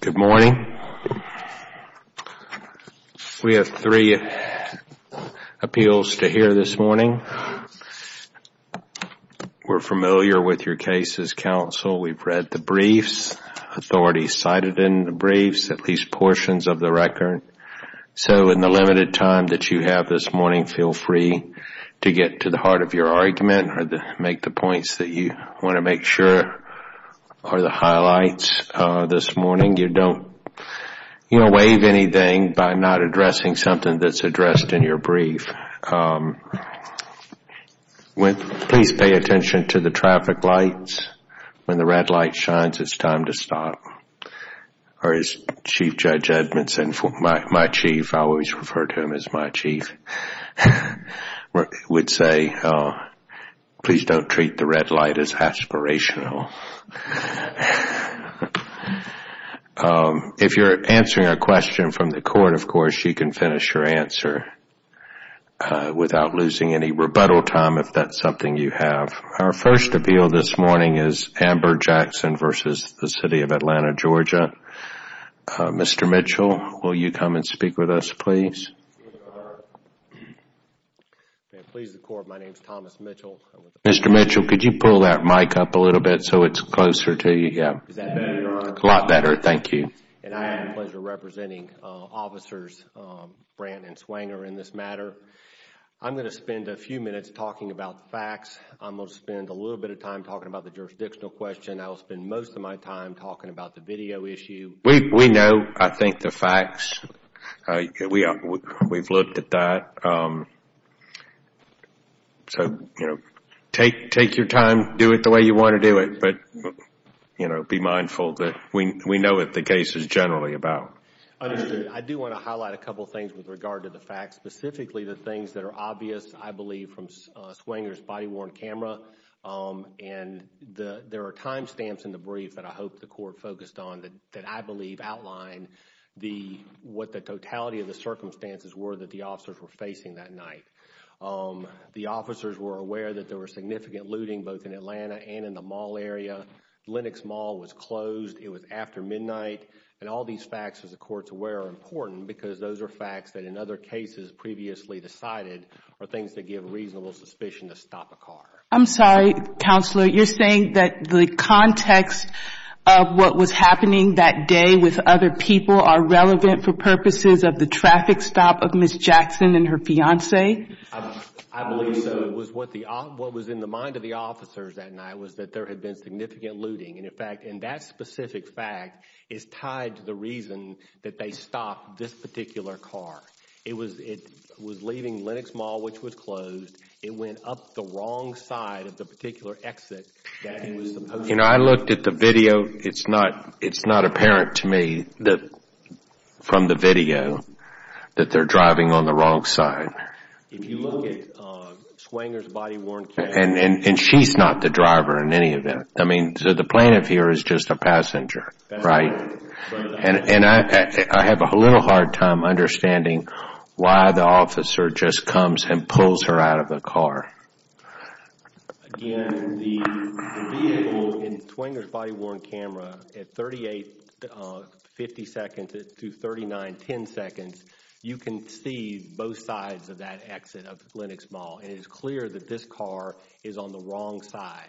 Good morning. We have three appeals to hear this morning. We're familiar with your case as counsel. We've read the briefs, authorities cited in the briefs, at least portions of the record. So in the limited time that you have this morning, feel free to get to the points that you want to make sure are the highlights this morning. You don't waive anything by not addressing something that's addressed in your brief. Please pay attention to the traffic lights. When the red light shines, it's time to stop. As Chief Judge Edmondson, my chief, I always refer to him as my chief, would say, please don't treat the red light as aspirational. If you're answering a question from the court, of course, you can finish your answer without losing any rebuttal time if that's something you have. Our first appeal this morning is Amber Jackson v. City of Atlanta, Georgia. Mr. Mitchell, will you come and speak with us, please? Mr. Mitchell, could you pull that mic up a little bit so it's closer to you? Is that better, Your Honor? A lot better, thank you. And I have the pleasure of representing Officers Brandt and Swanger in this matter. I'm going to spend a few minutes talking about the facts. I'm going to spend a little bit of time talking about the jurisdictional question. I will spend most of my time talking about the video issue. We know, I think, the facts. We've looked at that. So, you know, take your time. Do it the way you want to do it. But, you know, be mindful that we know what the case is generally about. Understood. I do want to highlight a couple of things with regard to the facts, specifically the things that are obvious, I believe, from Swanger's body-worn camera. And there are timestamps in the brief that I hope the Court focused on that I believe outline what the totality of the circumstances were that the officers were facing that night. The officers were aware that there were significant looting both in Atlanta and in the mall area. Lenox Mall was closed. It was after midnight. And all these facts, as the Court is aware, are important because those are facts that in other cases previously decided are things that give reasonable suspicion to stop a car. I'm sorry, Counselor. You're saying that the context of what was happening that day with other people are relevant for purposes of the traffic stop of Ms. Jackson and her fiancé? I believe so. What was in the mind of the officers that night was that there had been significant looting. And, in fact, that specific fact is tied to the reason that they stopped this particular car. It was leaving Lenox Mall, which was closed. It went up the wrong side of the particular exit that it was supposed to go up. I looked at the video. It's not apparent to me from the video that they're driving on the wrong side. If you look at Swanger's body-worn car. And she's not the driver in any event. I mean, the plaintiff here is just a passenger, right? And I have a little hard time understanding why the officer just comes and pulls her out of the car. Again, the vehicle in Swanger's body-worn camera at 38.50 seconds to 39.10 seconds, you can see both sides of that exit of Lenox Mall. And it is clear that this car is on the wrong side.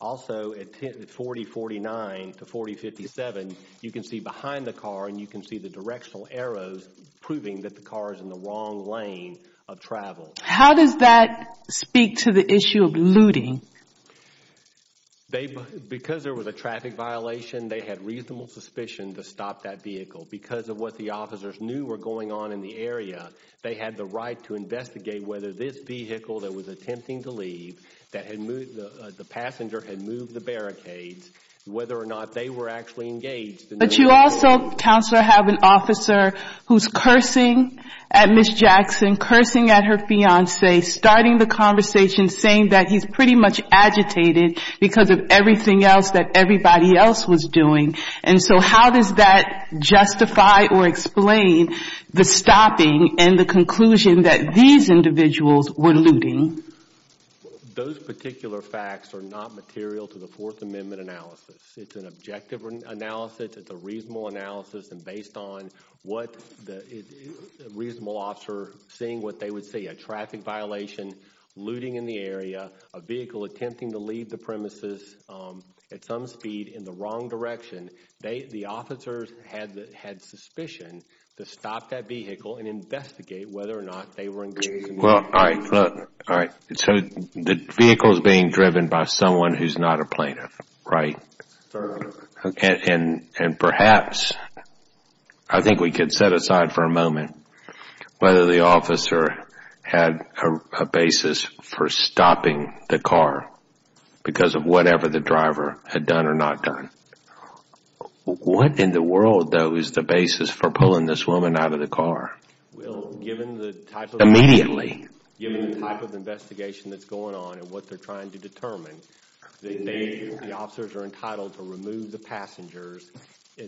Also, at 40.49 to 40.57, you can see behind the car and you can see the directional arrows proving that the car is in the wrong lane of travel. How does that speak to the issue of looting? Because there was a traffic violation, they had reasonable suspicion to stop that vehicle. Because of what the officers knew were going on in the area, they had the right to investigate whether this vehicle that was attempting to leave, the passenger had moved the barricades, whether or not they were actually engaged. But you also, Counselor, have an officer who is cursing at Ms. Jackson, cursing at her fiancé, starting the conversation saying that he is pretty much agitated because of everything else that everybody else was doing. And so how does that justify or explain the stopping and the conclusion that these individuals were looting? Those particular facts are not material to the Fourth Amendment analysis. It is an objective analysis. It is a reasonable analysis. And based on what the reasonable officer seeing what they would see, a traffic violation, looting in the area, a vehicle attempting to leave the premises at some speed in the wrong direction, the officers had suspicion to stop that vehicle and investigate whether or not they were engaged in looting. All right. So the vehicle is being driven by someone who is not a plaintiff, right? And perhaps, I think we could set aside for a moment, whether the officer had a basis for stopping the car because of whatever the driver had done or not done. What in the world though is the basis for pulling this woman out of the car? Well, given the type of investigation that is going on and what they are trying to determine, the officers are entitled to remove the passengers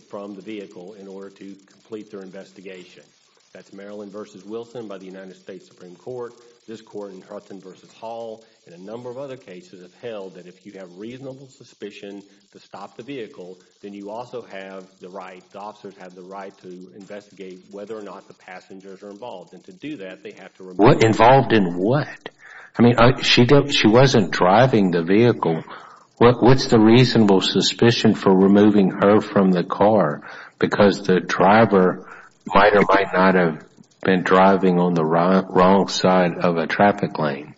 from the vehicle in order to complete their investigation. That is Maryland v. Wilson by the United States Supreme Court, this court in Hudson v. Hall, and a number of other cases have held that if you have reasonable suspicion to stop the vehicle, then you also have the right, the officers have the right to investigate whether or not the passengers are involved. And to do that, they have to remove them. Involved in what? I mean, she wasn't driving the vehicle. What is the reasonable suspicion for removing her from the car? Because the driver might or might not have been driving on the wrong side of a traffic lane.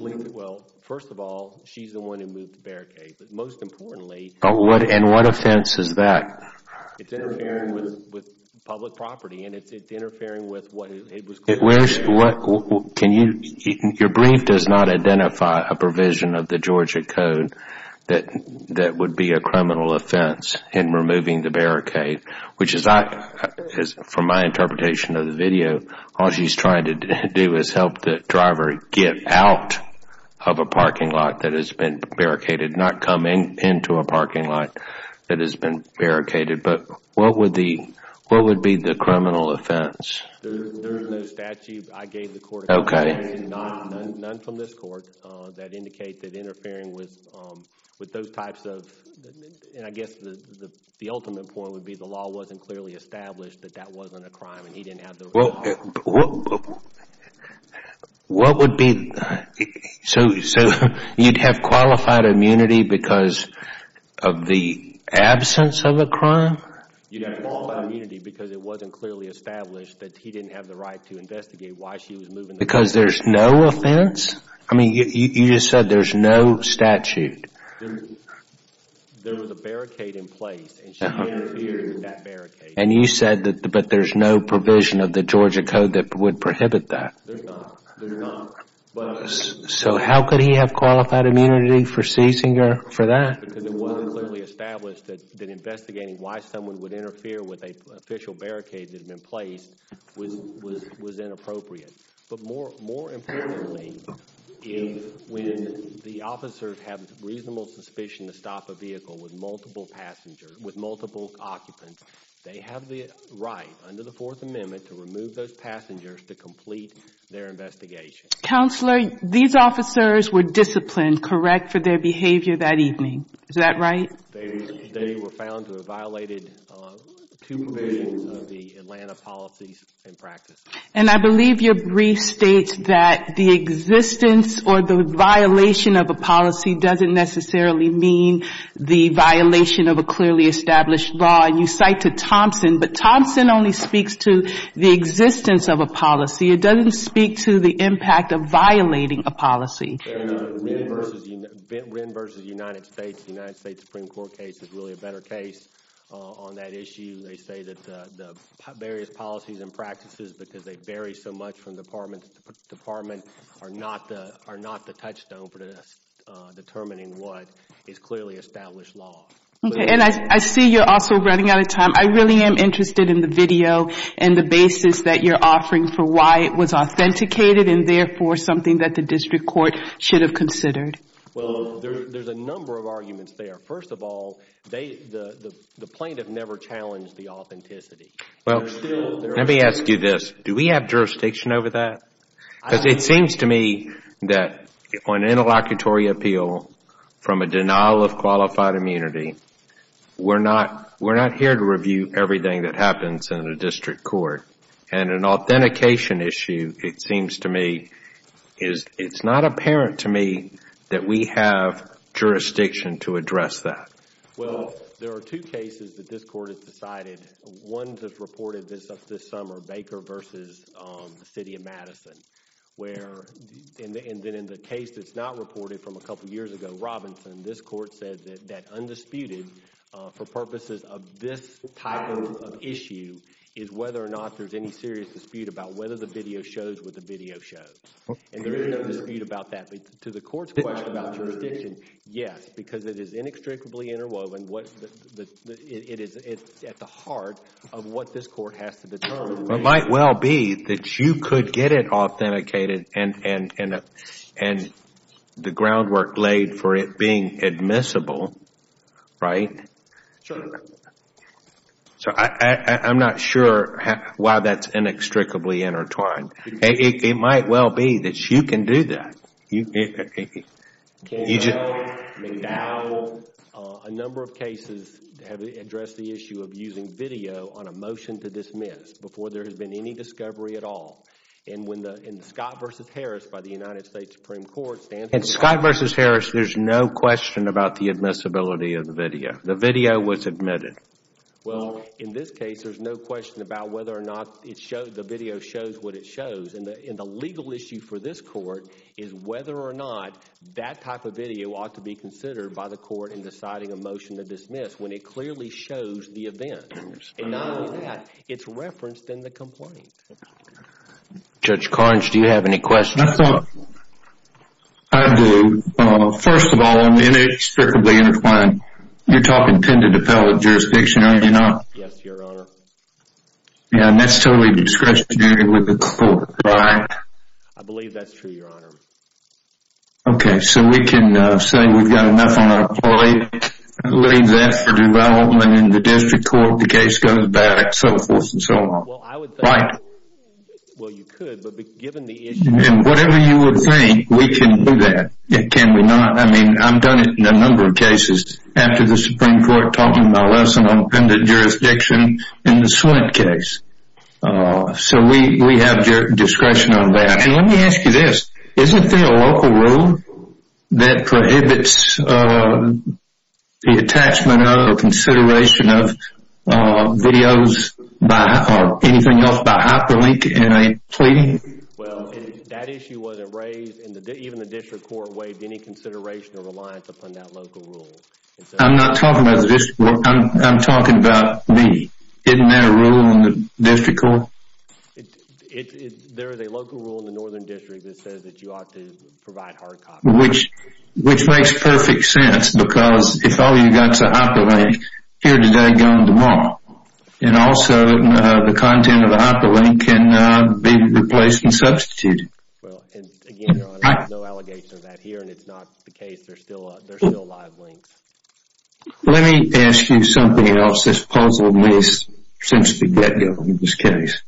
Well, first of all, she is the one who moved the barricade. But most importantly... And what offense is that? It's interfering with public property and it's interfering with what it was claimed to be. Your brief does not identify a provision of the Georgia Code that would be a criminal offense in removing the barricade, which is, from my interpretation of the video, all she is trying to do is help the driver get out of a parking lot that has been barricaded, not come into a parking lot that has been barricaded. But what would be the criminal offense? There is no statute I gave the court. None from this court that indicate that interfering with those types of, and I guess the ultimate point would be the law wasn't clearly established that that wasn't a crime and he didn't have the right to... What would be... So you'd have qualified immunity because of the absence of a crime? You'd have qualified immunity because it wasn't clearly established that he didn't have the right to investigate why she was moving the barricade. Because there's no offense? I mean, you just said there's no statute. There was a barricade in place and she interfered with that barricade. And you said that there's no provision of the Georgia code that would prohibit that. There's not. There's not. So how could he have qualified immunity for seizing her for that? Because it wasn't clearly established that investigating why someone would interfere with an official barricade that had been placed was inappropriate. But more importantly, when the officers have reasonable suspicion to stop a vehicle with multiple occupants, they have the right under the Fourth Amendment to remove those passengers to complete their investigation. Counselor, these officers were disciplined, correct, for their behavior that evening. Is that right? They were found to have violated two provisions of the Atlanta policies and practices. And I believe your brief states that the existence or the violation of a policy doesn't necessarily mean the violation of a clearly established law. And you cite to Thompson, but Thompson only speaks to the existence of a policy. It doesn't speak to the impact of violating a policy. And Wren v. United States, the United States Supreme Court case is really a better case on that issue. They say that the various policies and practices, because they vary so much from department to department, are not the touchstone for determining what is clearly established law. And I see you're also running out of time. I really am interested in the video and the basis that you're offering for why it was authenticated and therefore something that the district court should have considered. Well, there's a number of arguments there. First of all, the plaintiff never challenged the authenticity. Let me ask you this. Do we have jurisdiction over that? Because it seems to me that on an interlocutory appeal from a denial of qualified immunity, we're not here to review everything that happens in a district court. And an authentication issue, it seems to me, it's not apparent to me that we have jurisdiction to address that. Well, there are two cases that this court has decided. One that's reported this summer, Baker versus the city of Madison, where, and then in the case that's not reported from a couple years ago, Robinson, this court said that undisputed for purposes of this type of issue is whether or not there's any serious dispute about whether the video shows what the video shows. And there is no dispute about that. To the court's question about jurisdiction, yes, because it is inextricably interwoven. It is at the heart of what this court has to determine. It might well be that you could get it authenticated and the groundwork laid for it being admissible, right? Sure. So I'm not sure why that's inextricably intertwined. It might well be that you can do that. Campbell, McDowell, a number of cases have addressed the issue of using video on a motion to dismiss before there has been any discovery at all. And when the Scott versus Harris by the United States Supreme Court stands— In Scott versus Harris, there's no question about the admissibility of the video. The video was admitted. Well, in this case, there's no question about whether or not the video shows what it shows. And the legal issue for this court is whether or not that type of video ought to be considered by the court in deciding a motion to dismiss when it clearly shows the event. And not only that, it's referenced in the complaint. Judge Carnes, do you have any questions? I do. First of all, in the inextricably intertwined, you're talking intended appellate jurisdiction, are you not? Yes, Your Honor. And that's totally discretionary with the court, right? I believe that's true, Your Honor. Okay, so we can say we've got enough on our plate, leave that for development in the district court, the case goes back, so forth and so on, right? Well, you could, but given the issue— And whatever you would think, we can do that. Can we not? I mean, I've done it in a number of cases. After the Supreme Court taught me my lesson on intended jurisdiction, in the Sweatt case, so we have discretion on that. And let me ask you this, isn't there a local rule that prohibits the attachment or consideration of videos or anything else by hyperlink in a plea? Well, that issue wasn't raised, even the district court waived any consideration or reliance upon that local rule. I'm not talking about the district court. I'm talking about me. Isn't there a rule in the district court? There is a local rule in the northern district that says that you ought to provide hard copies. Which makes perfect sense, because if all you've got is a hyperlink, here today, gone tomorrow. And also, the content of the hyperlink can be replaced and substituted. Well, and again, Your Honor, there's no allegation of that here, and it's not the case. There's still live links. Let me ask you something else. This puzzled me since the get-go in this case.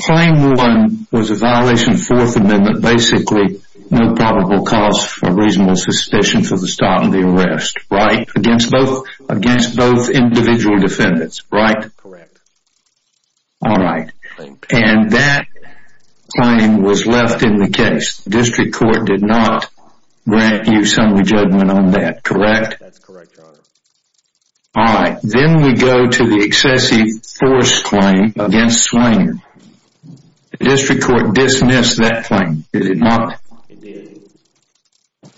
Claim one was a violation of Fourth Amendment. Basically, no probable cause for reasonable suspicion for the stop and the arrest. Right? Against both individual defendants, right? Correct. All right. And that claim was left in the case. The district court did not grant you summary judgment on that, correct? That's correct, Your Honor. All right. Then we go to the excessive force claim against Swain. The district court dismissed that claim, did it not? It did.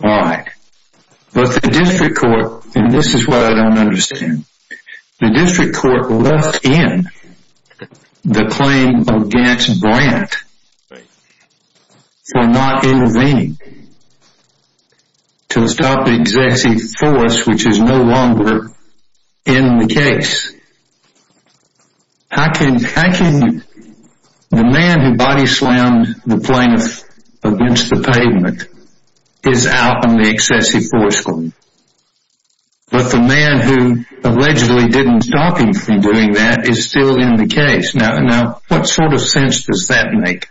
All right. But the district court, and this is what I don't understand. The district court left in the claim against Brandt for not intervening to stop the excessive force, which is no longer in the case. How can the man who body-slammed the plaintiff against the pavement is out on the excessive force claim? But the man who allegedly didn't stop him from doing that is still in the case. Now, what sort of sense does that make?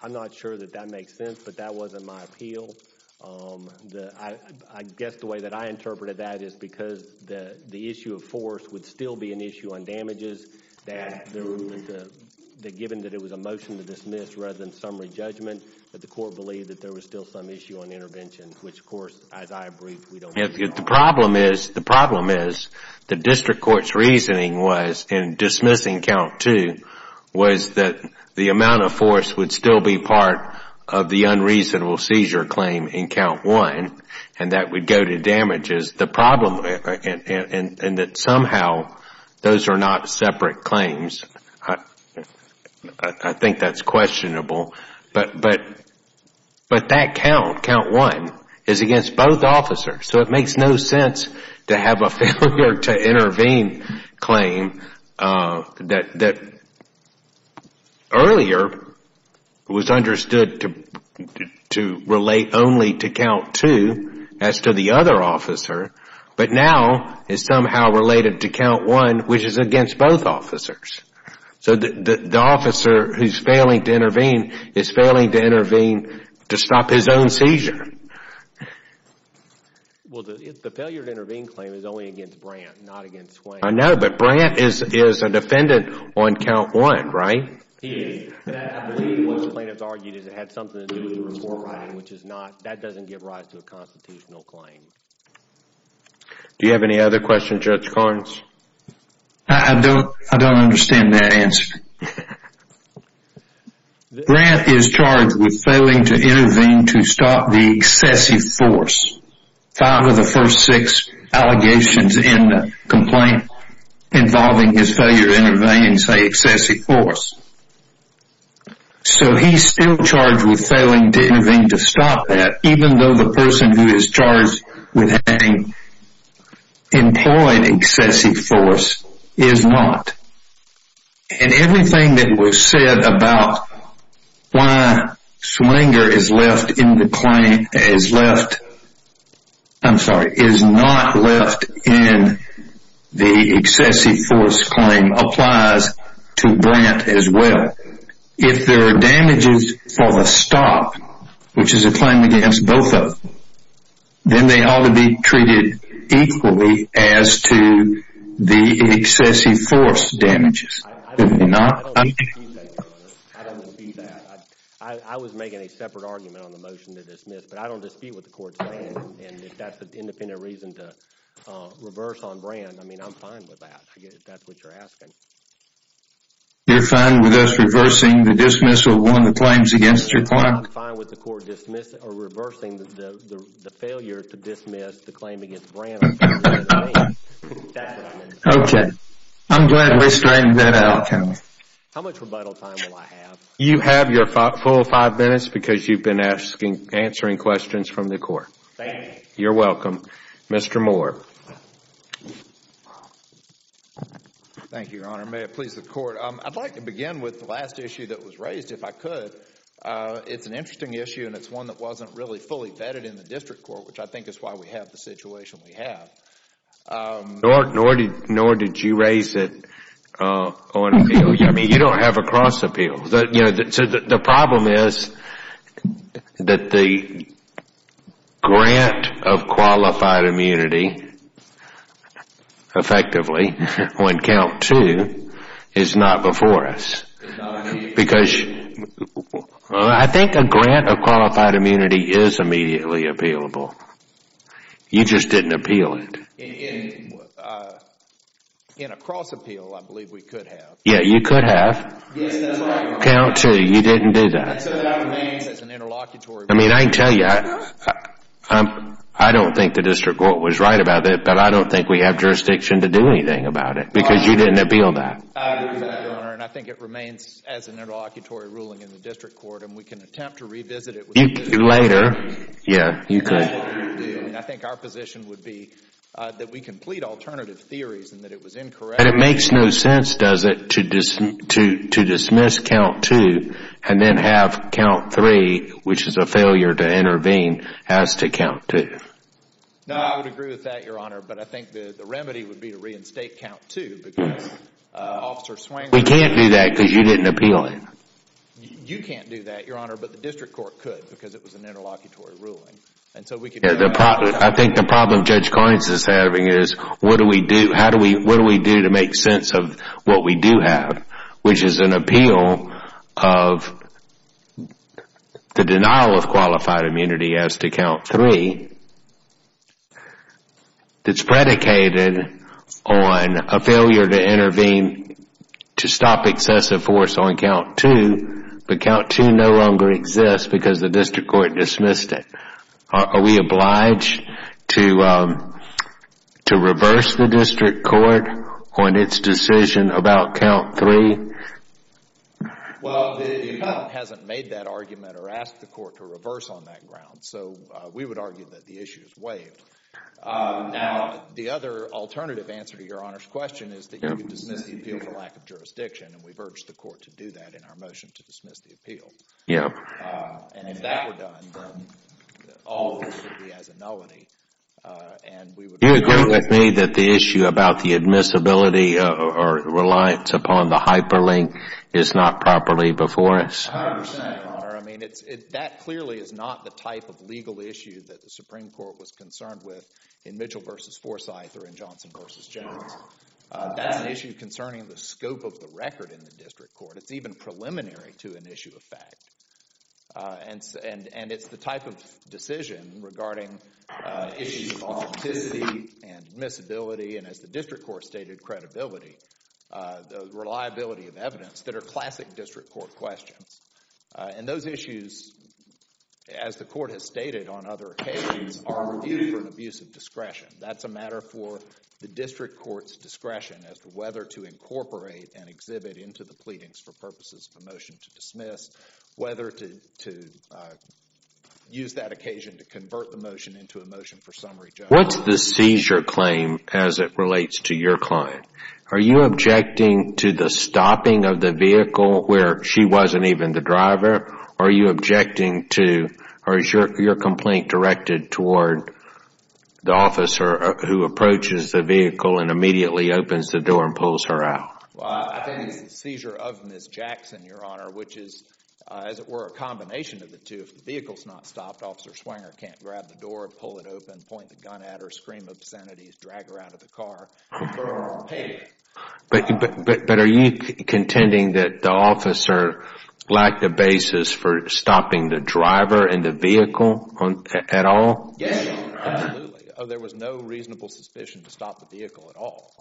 I'm not sure that that makes sense, but that wasn't my appeal. I guess the way that I interpreted that is because the issue of force would still be an issue on damages. Given that it was a motion to dismiss rather than summary judgment, the court believed that there was still some issue on interventions, which of course, as I agreed, we don't have. The problem is the district court's reasoning in dismissing count two was that the amount of force would still be part of the unreasonable seizure claim in count one and that would go to damages. The problem is that somehow those are not separate claims. I think that's questionable. But that count, count one, is against both officers. So it makes no sense to have a failure to intervene claim that earlier was understood to relate only to count two as to the other officer, but now is somehow related to count one, which is against both officers. So the officer who's failing to intervene is failing to intervene to stop his own seizure. Well, the failure to intervene claim is only against Brandt, not against Swain. I know, but Brandt is a defendant on count one, right? He is. I believe what the plaintiffs argued is it had something to do with the report writing, which is not, that doesn't give rise to a constitutional claim. Do you have any other questions, Judge Carnes? I don't understand that answer. Brandt is charged with failing to intervene to stop the excessive force. Five of the first six allegations in the complaint involving his failure to intervene say excessive force. So he's still charged with failing to intervene to stop that, even though the person who is charged with having employed excessive force is not. And everything that was said about why Swinger is left in the claim, is left, I'm sorry, is not left in the excessive force claim applies to Brandt as well. If there are damages for the stop, which is a claim against both of them, then they ought to be treated equally as to the excessive force damages. If not, I'm... I don't dispute that, Your Honor. I don't dispute that. I was making a separate argument on the motion to dismiss, but I don't dispute what the court's saying. And if that's an independent reason to reverse on Brandt, I mean, I'm fine with that, if that's what you're asking. You're fine with us reversing the dismissal of one of the claims against your client? I'm fine with the court reversing the failure to dismiss the claim against Brandt. That's what I'm interested in. Okay. I'm glad we straightened that out. How much rebuttal time will I have? You have your full five minutes because you've been answering questions from the court. Thank you. You're welcome. Mr. Moore. Thank you, Your Honor. May it please the court. I'd like to begin with the last issue that was raised, if I could. It's an interesting issue, and it's one that wasn't really fully vetted in the district court, which I think is why we have the situation we have. Nor did you raise it on appeal. You don't have a cross appeal. The problem is that the grant of qualified immunity, effectively, on count two, is not before us. I think a grant of qualified immunity is immediately appealable. You just didn't appeal it. In a cross appeal, I believe we could have. Yeah, you could have. Yes, that's right. Count two. You didn't do that. That remains as an interlocutory. I mean, I tell you, I don't think the district court was right about it, but I don't think we have jurisdiction to do anything about it because you didn't appeal that. I think it remains as an interlocutory ruling in the district court, and we can attempt to revisit it. You can do it later. Yeah, you could. I think our position would be that we can plead alternative theories and that it was incorrect. And it makes no sense, does it, to dismiss count two and then have count three, which is a failure to intervene, has to count two. No, I would agree with that, Your Honor, but I think the remedy would be to reinstate count two because Officer Swingler... We can't do that because you didn't appeal it. You can't do that, Your Honor, but the district court could because it was an interlocutory ruling. I think the problem Judge Carnes is having is what do we do to make sense of what we do have, which is an appeal of the denial of qualified immunity as to count three that's predicated on a failure to intervene to stop excessive force on count two, but count two no longer exists because the district court dismissed it. Are we obliged to reverse the district court on its decision about count three? Well, the court hasn't made that argument or asked the court to reverse on that ground, so we would argue that the issue is waived. Now, the other alternative answer to Your Honor's question is that you can dismiss the appeal for lack of jurisdiction, and we've urged the court to do that in our motion to dismiss the appeal. And if that were done, then all hope would be as a nullity, and we would... Do you agree with me that the issue about the admissibility or reliance upon the hyperlink is not properly before us? I understand, Your Honor. I mean, that clearly is not the type of legal issue that the Supreme Court was concerned with in Mitchell v. Forsyth or in Johnson v. Jones. That's an issue concerning the scope of the record in the district court. It's even preliminary to an issue of fact. And it's the type of decision regarding issues of authenticity and admissibility and, as the district court stated, credibility, the reliability of evidence that are classic district court questions. And those issues, as the court has stated on other occasions, are reviewed for an abuse of discretion. That's a matter for the district court's discretion as to whether to incorporate and exhibit into the pleadings for purposes of a motion to dismiss, whether to use that occasion to convert the motion into a motion for summary judgment. What's the seizure claim as it relates to your client? Are you objecting to the stopping of the vehicle where she wasn't even the driver? Or are you objecting to, or is your complaint directed toward the officer who approaches the vehicle and immediately opens the door and pulls her out? Well, I think it's the seizure of Ms. Jackson, Your Honor, which is, as it were, a combination of the two. If the vehicle's not stopped, Officer Swanger can't grab the door, pull it open, point the gun at her, scream obscenities, drag her out of the car, and burn her on the pavement. But are you contending that the officer lacked a basis for stopping the driver and the vehicle at all? Yes, absolutely. There was no reasonable suspicion to stop the vehicle at all.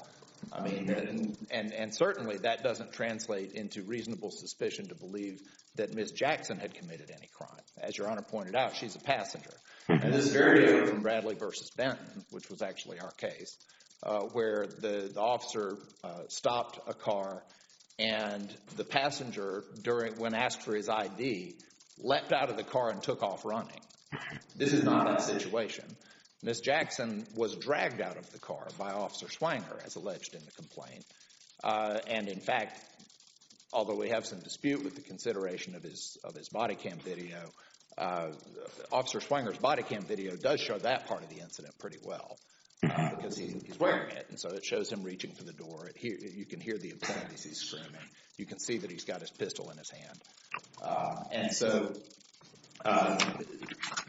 And certainly that doesn't translate into reasonable suspicion to believe that Ms. Jackson had committed any crime. As Your Honor pointed out, she's a passenger. And this is very different from Bradley v. Benton, which was actually our case, where the officer stopped a car and the passenger, when asked for his ID, leapt out of the car and took off running. This is not that situation. Ms. Jackson was dragged out of the car by Officer Swanger, as alleged in the complaint. And in fact, although we have some dispute with the consideration of his body cam video, Officer Swanger's body cam video does show that part of the incident pretty well, because he's wearing it. And so it shows him reaching for the door. You can hear the obscenities he's screaming. You can see that he's got his pistol in his hand. And so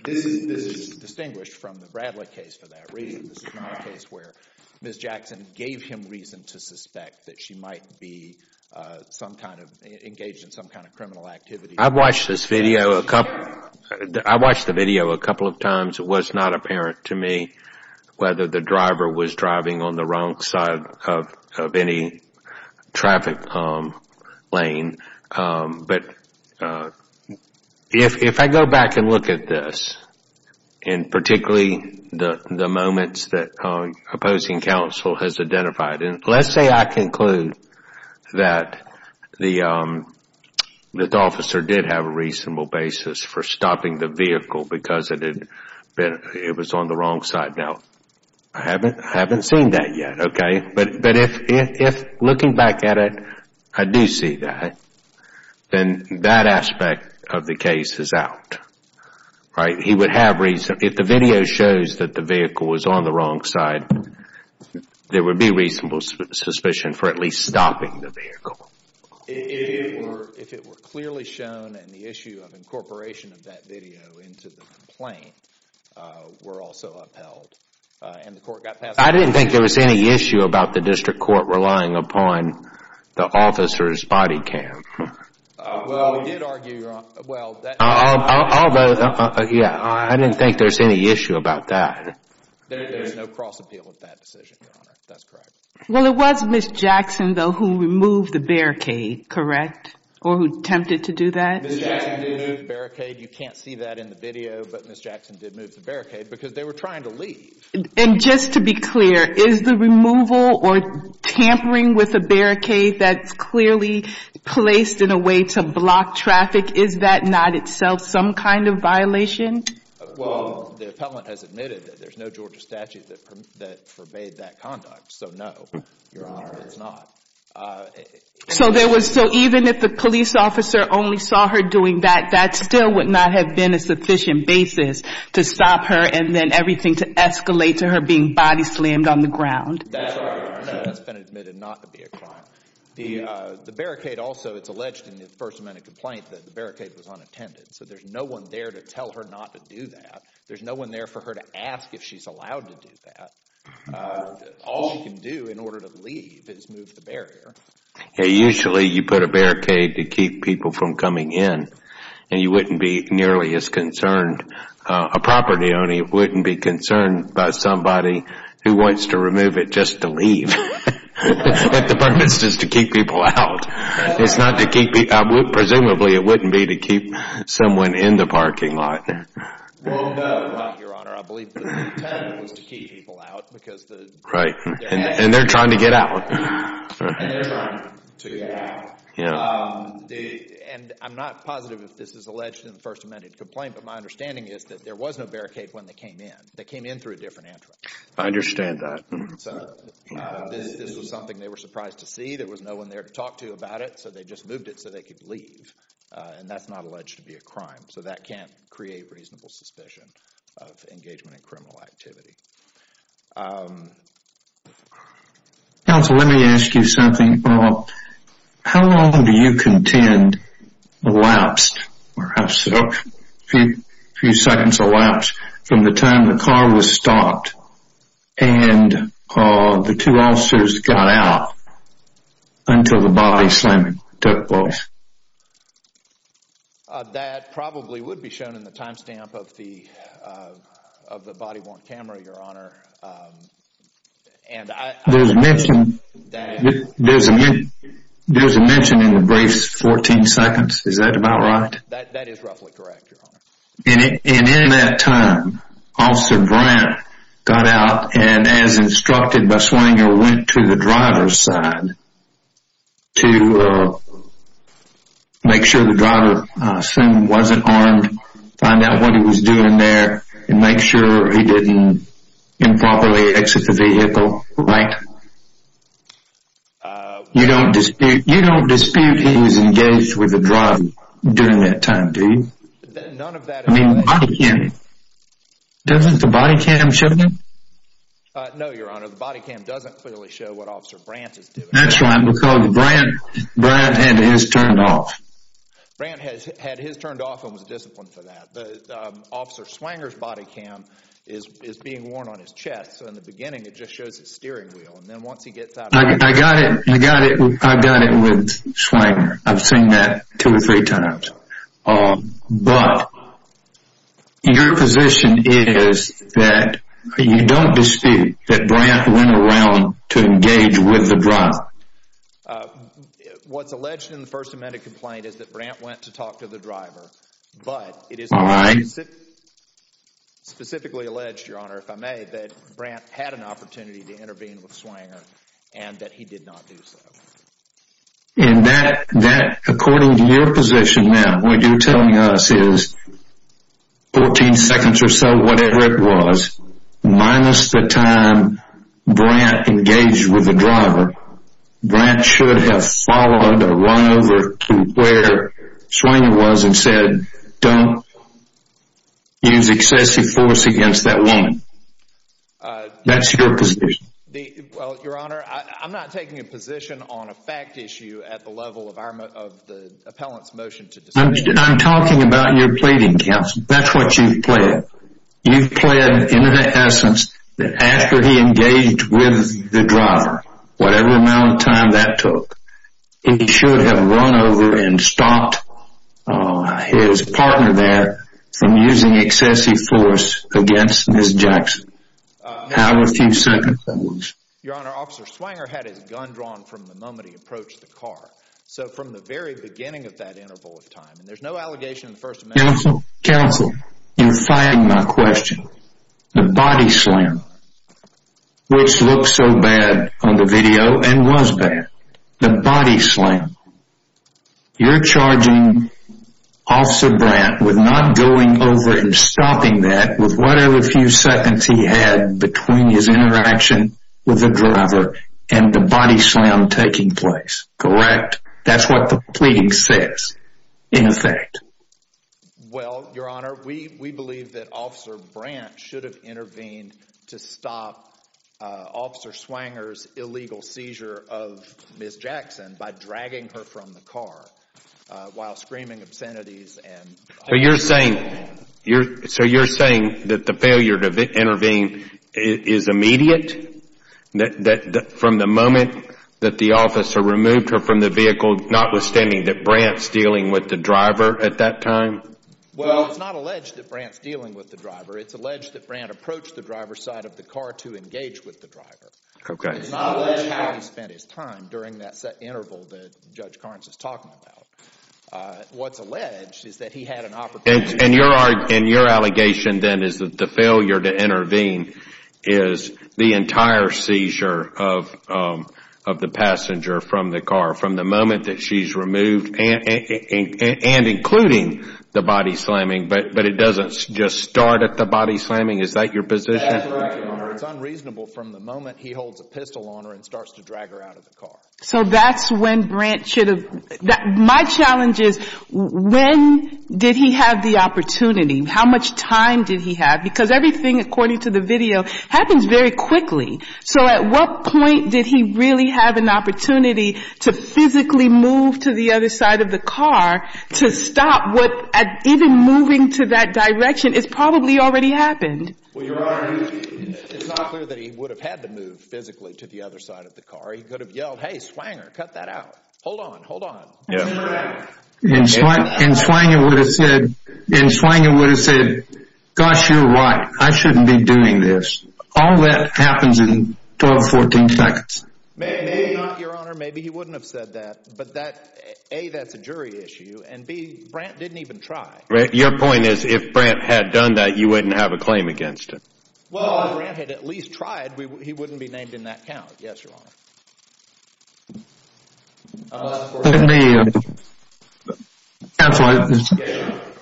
this is distinguished from the Bradley case for that reason. This is not a case where Ms. Jackson gave him reason to suspect that she might be engaged in some kind of criminal activity. I've watched this video a couple of times. It was not apparent to me whether the driver was driving on the wrong side of any traffic lane. But if I go back and look at this, and particularly the moments that opposing counsel has identified, let's say I conclude that the officer did have a reasonable basis for stopping the vehicle because it was on the wrong side. Now, I haven't seen that yet. But if looking back at it, I do see that. Then that aspect of the case is out. He would have reason. If the video shows that the vehicle was on the wrong side, there would be reasonable suspicion for at least stopping the vehicle. If it were clearly shown and the issue of incorporation of that video into the complaint were also upheld and the court got past that. I didn't think there was any issue about the district court relying upon the officer's body cam. Well, we did argue. Although, yeah, I didn't think there was any issue about that. There is no cross appeal of that decision, Your Honor. That's correct. Well, it was Ms. Jackson, though, who removed the barricade, correct? Or who attempted to do that? Ms. Jackson did move the barricade. You can't see that in the video. But Ms. Jackson did move the barricade because they were trying to leave. And just to be clear, is the removal or tampering with the barricade that's clearly placed in a way to block traffic, is that not itself some kind of violation? Well, the appellant has admitted that there's no Georgia statute that forbade that conduct. So no, Your Honor, it's not. So even if the police officer only saw her doing that, that still would not have been a sufficient basis to stop her and then everything to escalate to her being body slammed on the ground? That's been admitted not to be a crime. The barricade also, it's alleged in the First Amendment complaint that the barricade was unattended. So there's no one there to tell her not to do that. There's no one there for her to ask if she's allowed to do that. All she can do in order to leave is move the barrier. Usually you put a barricade to keep people from coming in. And you wouldn't be nearly as concerned, a property owner wouldn't be concerned by somebody who wants to remove it just to leave. The purpose is to keep people out. Presumably it wouldn't be to keep someone in the parking lot. Well, no, Your Honor. I believe the intent was to keep people out. And they're trying to get out. And they're trying to get out. And I'm not positive if this is alleged in the First Amendment complaint, but my understanding is that there was no barricade when they came in. They came in through a different entrance. I understand that. This was something they were surprised to see. There was no one there to talk to about it. So they just moved it so they could leave. And that's not alleged to be a crime. So that can't create reasonable suspicion of engagement in criminal activity. Counsel, let me ask you something. How long do you contend elapsed, perhaps a few seconds elapsed, from the time the car was stopped and the two officers got out until the body slamming took place? That probably would be shown in the timestamp of the body-worn camera, Your Honor. There's a mention in the briefs, 14 seconds. Is that about right? That is roughly correct, Your Honor. And in that time, Officer Brandt got out and, as instructed by Swanger, went to the driver's side to make sure the driver wasn't armed, find out what he was doing there, and make sure he didn't improperly exit the vehicle, right? You don't dispute he was engaged with the driver during that time, do you? None of that is alleged. I mean, doesn't the body cam show that? No, Your Honor, the body cam doesn't clearly show what Officer Brandt is doing. That's right, because Brandt had his turned off. Brandt had his turned off and was disciplined for that. But Officer Swanger's body cam is being worn on his chest. So in the beginning, it just shows his steering wheel. And then once he gets out of the vehicle... I got it with Swanger. I've seen that two or three times. But your position is that you don't dispute that Brandt went around to engage with the driver. What's alleged in the First Amendment complaint is that Brandt went to talk to the driver, but it is specifically alleged, Your Honor, if I may, that Brandt had an opportunity to intervene with Swanger and that he did not do so. And that, according to your position now, what you're telling us is, 14 seconds or so, whatever it was, minus the time Brandt engaged with the driver, Brandt should have followed or run over to where Swanger was and said, don't use excessive force against that woman. That's your position. Well, Your Honor, I'm not taking a position on a fact issue at the level of the appellant's motion to dispute. I'm talking about your pleading, counsel. That's what you've pled. You've pled in the essence that after he engaged with the driver, whatever amount of time that took, he should have run over and stopped his partner there from using excessive force against Ms. Jackson. However few seconds that was. Your Honor, Officer Swanger had his gun drawn from the moment he approached the car. So from the very beginning of that interval of time, and there's no allegation in the First Amendment. Counsel, you're firing my question. The body slam, which looked so bad on the video and was bad. The body slam. You're charging Officer Brandt with not going over and stopping that with whatever few seconds he had between his interaction with the driver and the body slam taking place, correct? That's what the pleading says, in effect. Well, Your Honor, we believe that Officer Brandt should have intervened to stop Officer Swanger's illegal seizure of Ms. Jackson by dragging her from the car while screaming obscenities. So you're saying that the failure to intervene is immediate? From the moment that the officer removed her from the vehicle, notwithstanding that Brandt's dealing with the driver at that time? Well, it's not alleged that Brandt's dealing with the driver. It's alleged that Brandt approached the driver's side of the car to engage with the driver. It's not alleged how he spent his time during that interval that Judge Carnes is talking about. What's alleged is that he had an opportunity... And your allegation then is that the failure to intervene is the entire seizure of the passenger from the car, from the moment that she's removed and including the body slamming, but it doesn't just start at the body slamming? Is that your position? That's right, Your Honor. It's unreasonable from the moment he holds a pistol on her and starts to drag her out of the car. So that's when Brandt should have... My challenge is, when did he have the opportunity? How much time did he have? Because everything, according to the video, happens very quickly. So at what point did he really have an opportunity to physically move to the other side of the car to stop what, even moving to that direction, has probably already happened? Well, Your Honor, it's not clear that he would have had to move physically to the other side of the car. He could have yelled, hey, Swanger, cut that out. Hold on, hold on. And Swanger would have said, gosh, you're right. I shouldn't be doing this. All that happens in 12, 14 seconds. Maybe not, Your Honor. Maybe he wouldn't have said that. But A, that's a jury issue, and B, Brandt didn't even try. Your point is, if Brandt had done that, you wouldn't have a claim against him? Well, if Brandt had at least tried, he wouldn't be named in that count. Yes, Your Honor. Counselor, this is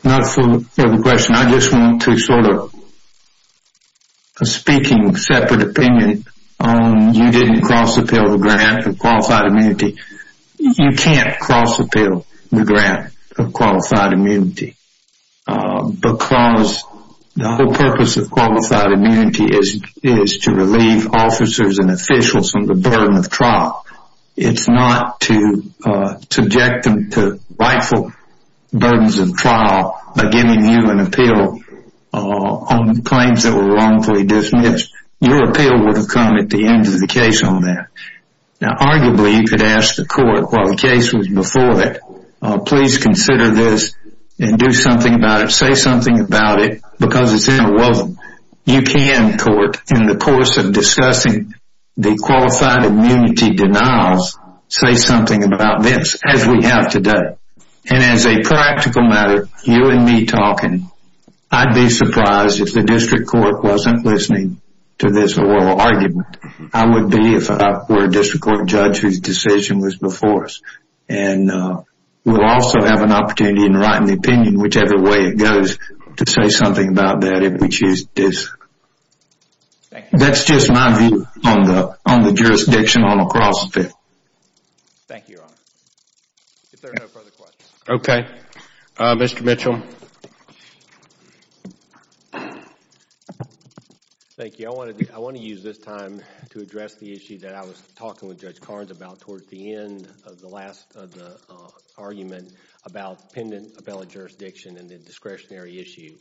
not for the question. I just want to sort of speak in a separate opinion. You didn't cross-appeal the grant of qualified immunity. You can't cross-appeal the grant of qualified immunity. Because the whole purpose of qualified immunity is to relieve officers and officials from the burden of trial. It's not to subject them to rightful burdens of trial by giving you an appeal on claims that were wrongfully dismissed. Your appeal would have come at the end of the case on that. Now, arguably, you could ask the court, while the case was before that, please consider this and do something about it. Say something about it, because it's interwoven. You can, court, in the course of discussing the qualified immunity denials, say something about this, as we have today. And as a practical matter, you and me talking, I'd be surprised if the district court wasn't listening to this oral argument. I would be if I were a district court judge whose decision was before us. And we'll also have an opportunity in writing the opinion, whichever way it goes, to say something about that if we choose to. That's just my view on the jurisdiction on a cross-appeal. Thank you, your honor. If there are no further questions. Okay. Mr. Mitchell. Thank you. I want to use this time to address the issue that I was talking with Judge Carnes about towards the end of the last argument about pendant appellate jurisdiction and the discretionary issue.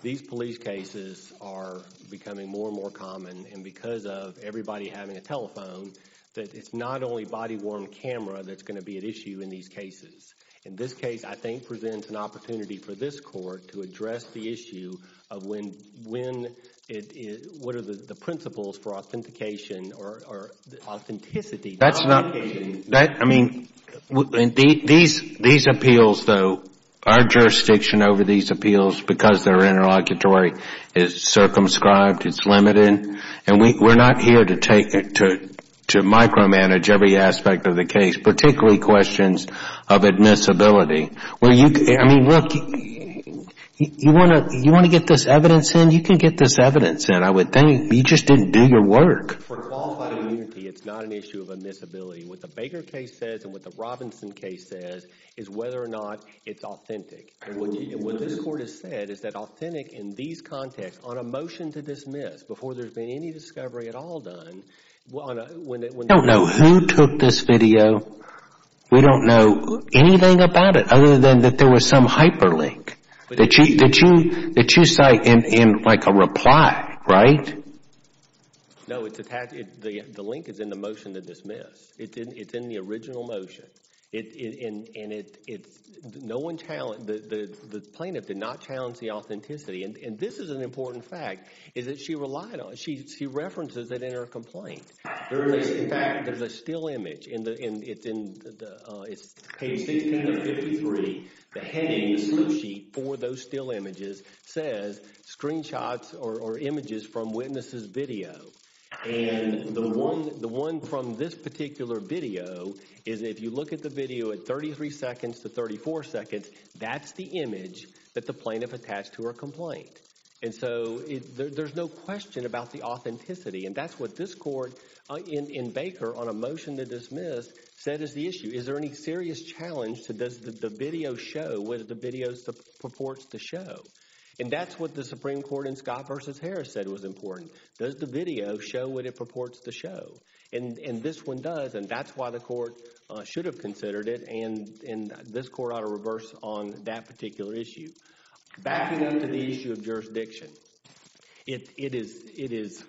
These police cases are becoming more and more common, and because of everybody having a telephone, that it's not only body-worn camera that's going to be at issue in these cases. In this case, I think, presents an opportunity for this court to address the issue of when, what are the principles for authentication or authenticity. That's not, I mean, these appeals, though, our jurisdiction over these appeals, because they're interlocutory, is circumscribed, it's limited. And we're not here to micromanage every aspect of the case, particularly questions of admissibility. I mean, look, you want to get this evidence in? You can get this evidence in. You just didn't do your work. For qualified immunity, it's not an issue of admissibility. What the Baker case says and what the Robinson case says is whether or not it's authentic. What this court has said is that authentic in these contexts, on a motion to dismiss before there's been any discovery at all done, I don't know who took this video. We don't know anything about it, other than that there was some hyperlink that you cite in, like, a reply, right? No, it's attached, the link is in the motion to dismiss. It's in the original motion. And it's, no one challenged, the plaintiff did not challenge the authenticity. And this is an important fact, is that she relied on, she references it in her complaint. In fact, there's a still image, it's page 16 of 53, the heading, the slip sheet for those still images says screenshots or images from witnesses' video. And the one from this particular video is if you look at the video at 33 seconds to 34 seconds, that's the image that the plaintiff attached to her complaint. And so, there's no question about the authenticity. And that's what this court, in Baker, on a motion to dismiss, said is the issue. Is there any serious challenge to does the video show what the video purports to show? And that's what the Supreme Court in Scott v. Harris said was important. Does the video show what it purports to show? And this one does, and that's why the court should have considered it, and this court ought to reverse on that particular issue. Backing up to the issue of jurisdiction, it is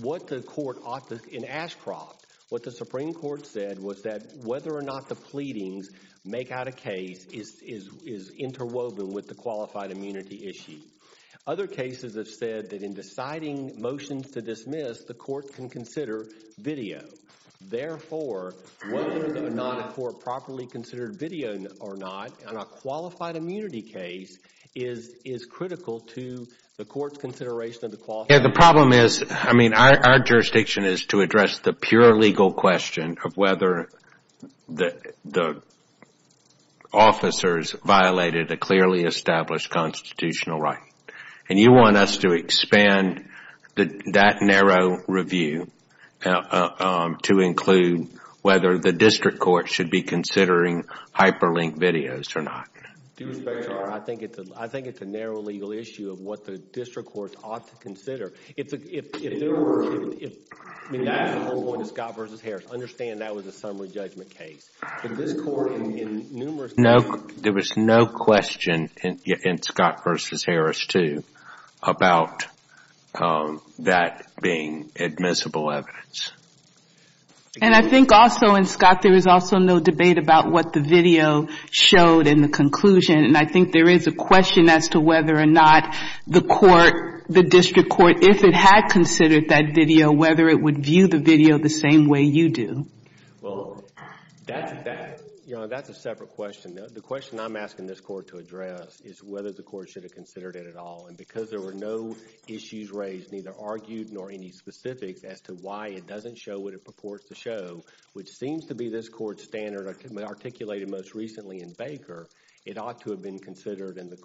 what the court ought to, in Ashcroft, what the Supreme Court said was that whether or not the pleadings make out a case is interwoven with the qualified immunity issue. Other cases have said that in deciding motions to dismiss, the court can consider video. Therefore, whether or not a court properly considered video or not, in a qualified immunity case, is critical to the court's consideration of the qualified immunity. Yeah, the problem is, I mean, our jurisdiction is to address the pure legal question of whether the officers violated a clearly established constitutional right. And you want us to expand that narrow review to include whether the district court should be considering hyperlinked videos or not. I think it's a narrow legal issue of what the district court ought to consider. If we're going to Scott v. Harris, understand that was a summary judgment case. If this court in numerous cases... There was no question in Scott v. Harris, too, about that being admissible evidence. And I think also in Scott, there was also no debate about what the video showed in the conclusion. And I think there is a question as to whether or not the court, the district court, if it had considered that video, whether it would view the video the same way you do. Well, that's a separate question. The question I'm asking this court to address is whether the court should have considered it at all. And because there were no issues raised, neither argued nor any specifics as to why it doesn't show what it purports to show, which seems to be this court's standard articulated most recently in Baker, it ought to have been considered in the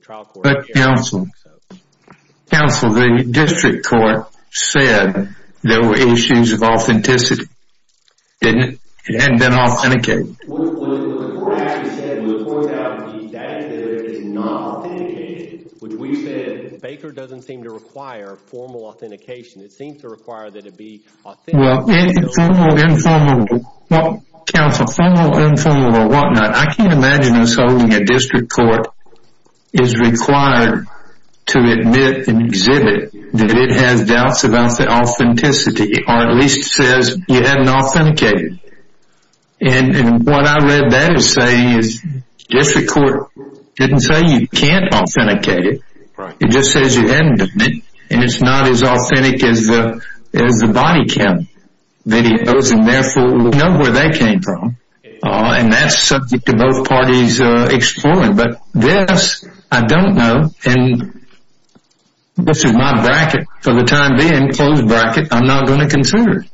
trial court... But, counsel, the district court said there were issues of authenticity. It hadn't been authenticated. What the court actually said, what the court actually said was that it is not authenticated. Baker doesn't seem to require formal authentication. It seems to require that it be authentic. Well, informal, informal, counsel, formal, informal or whatnot, I can't imagine us holding a district court is required to admit and exhibit that it has doubts about the authenticity or at least says you haven't authenticated. And what I read that as saying is district court didn't say you can't authenticate it. It just says you haven't done it. And it's not as authentic as the body count videos, and therefore we know where they came from. And that's subject to both parties exploring. But this I don't know, and this is my bracket for the time being, closed bracket, I'm not going to consider it.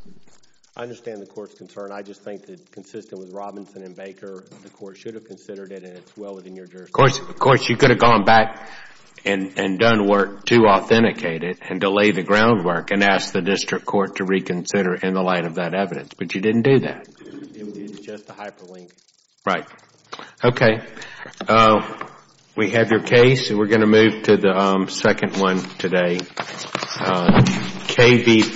I understand the court's concern. I just think that consistent with Robinson and Baker, the court should have considered it, and it's well within your jurisdiction. Of course, you could have gone back and done work to authenticate it and to lay the groundwork and ask the district court to reconsider in the light of that evidence, but you didn't do that. It was just a hyperlink. Right. Okay. We have your case. We're going to move to the second one today.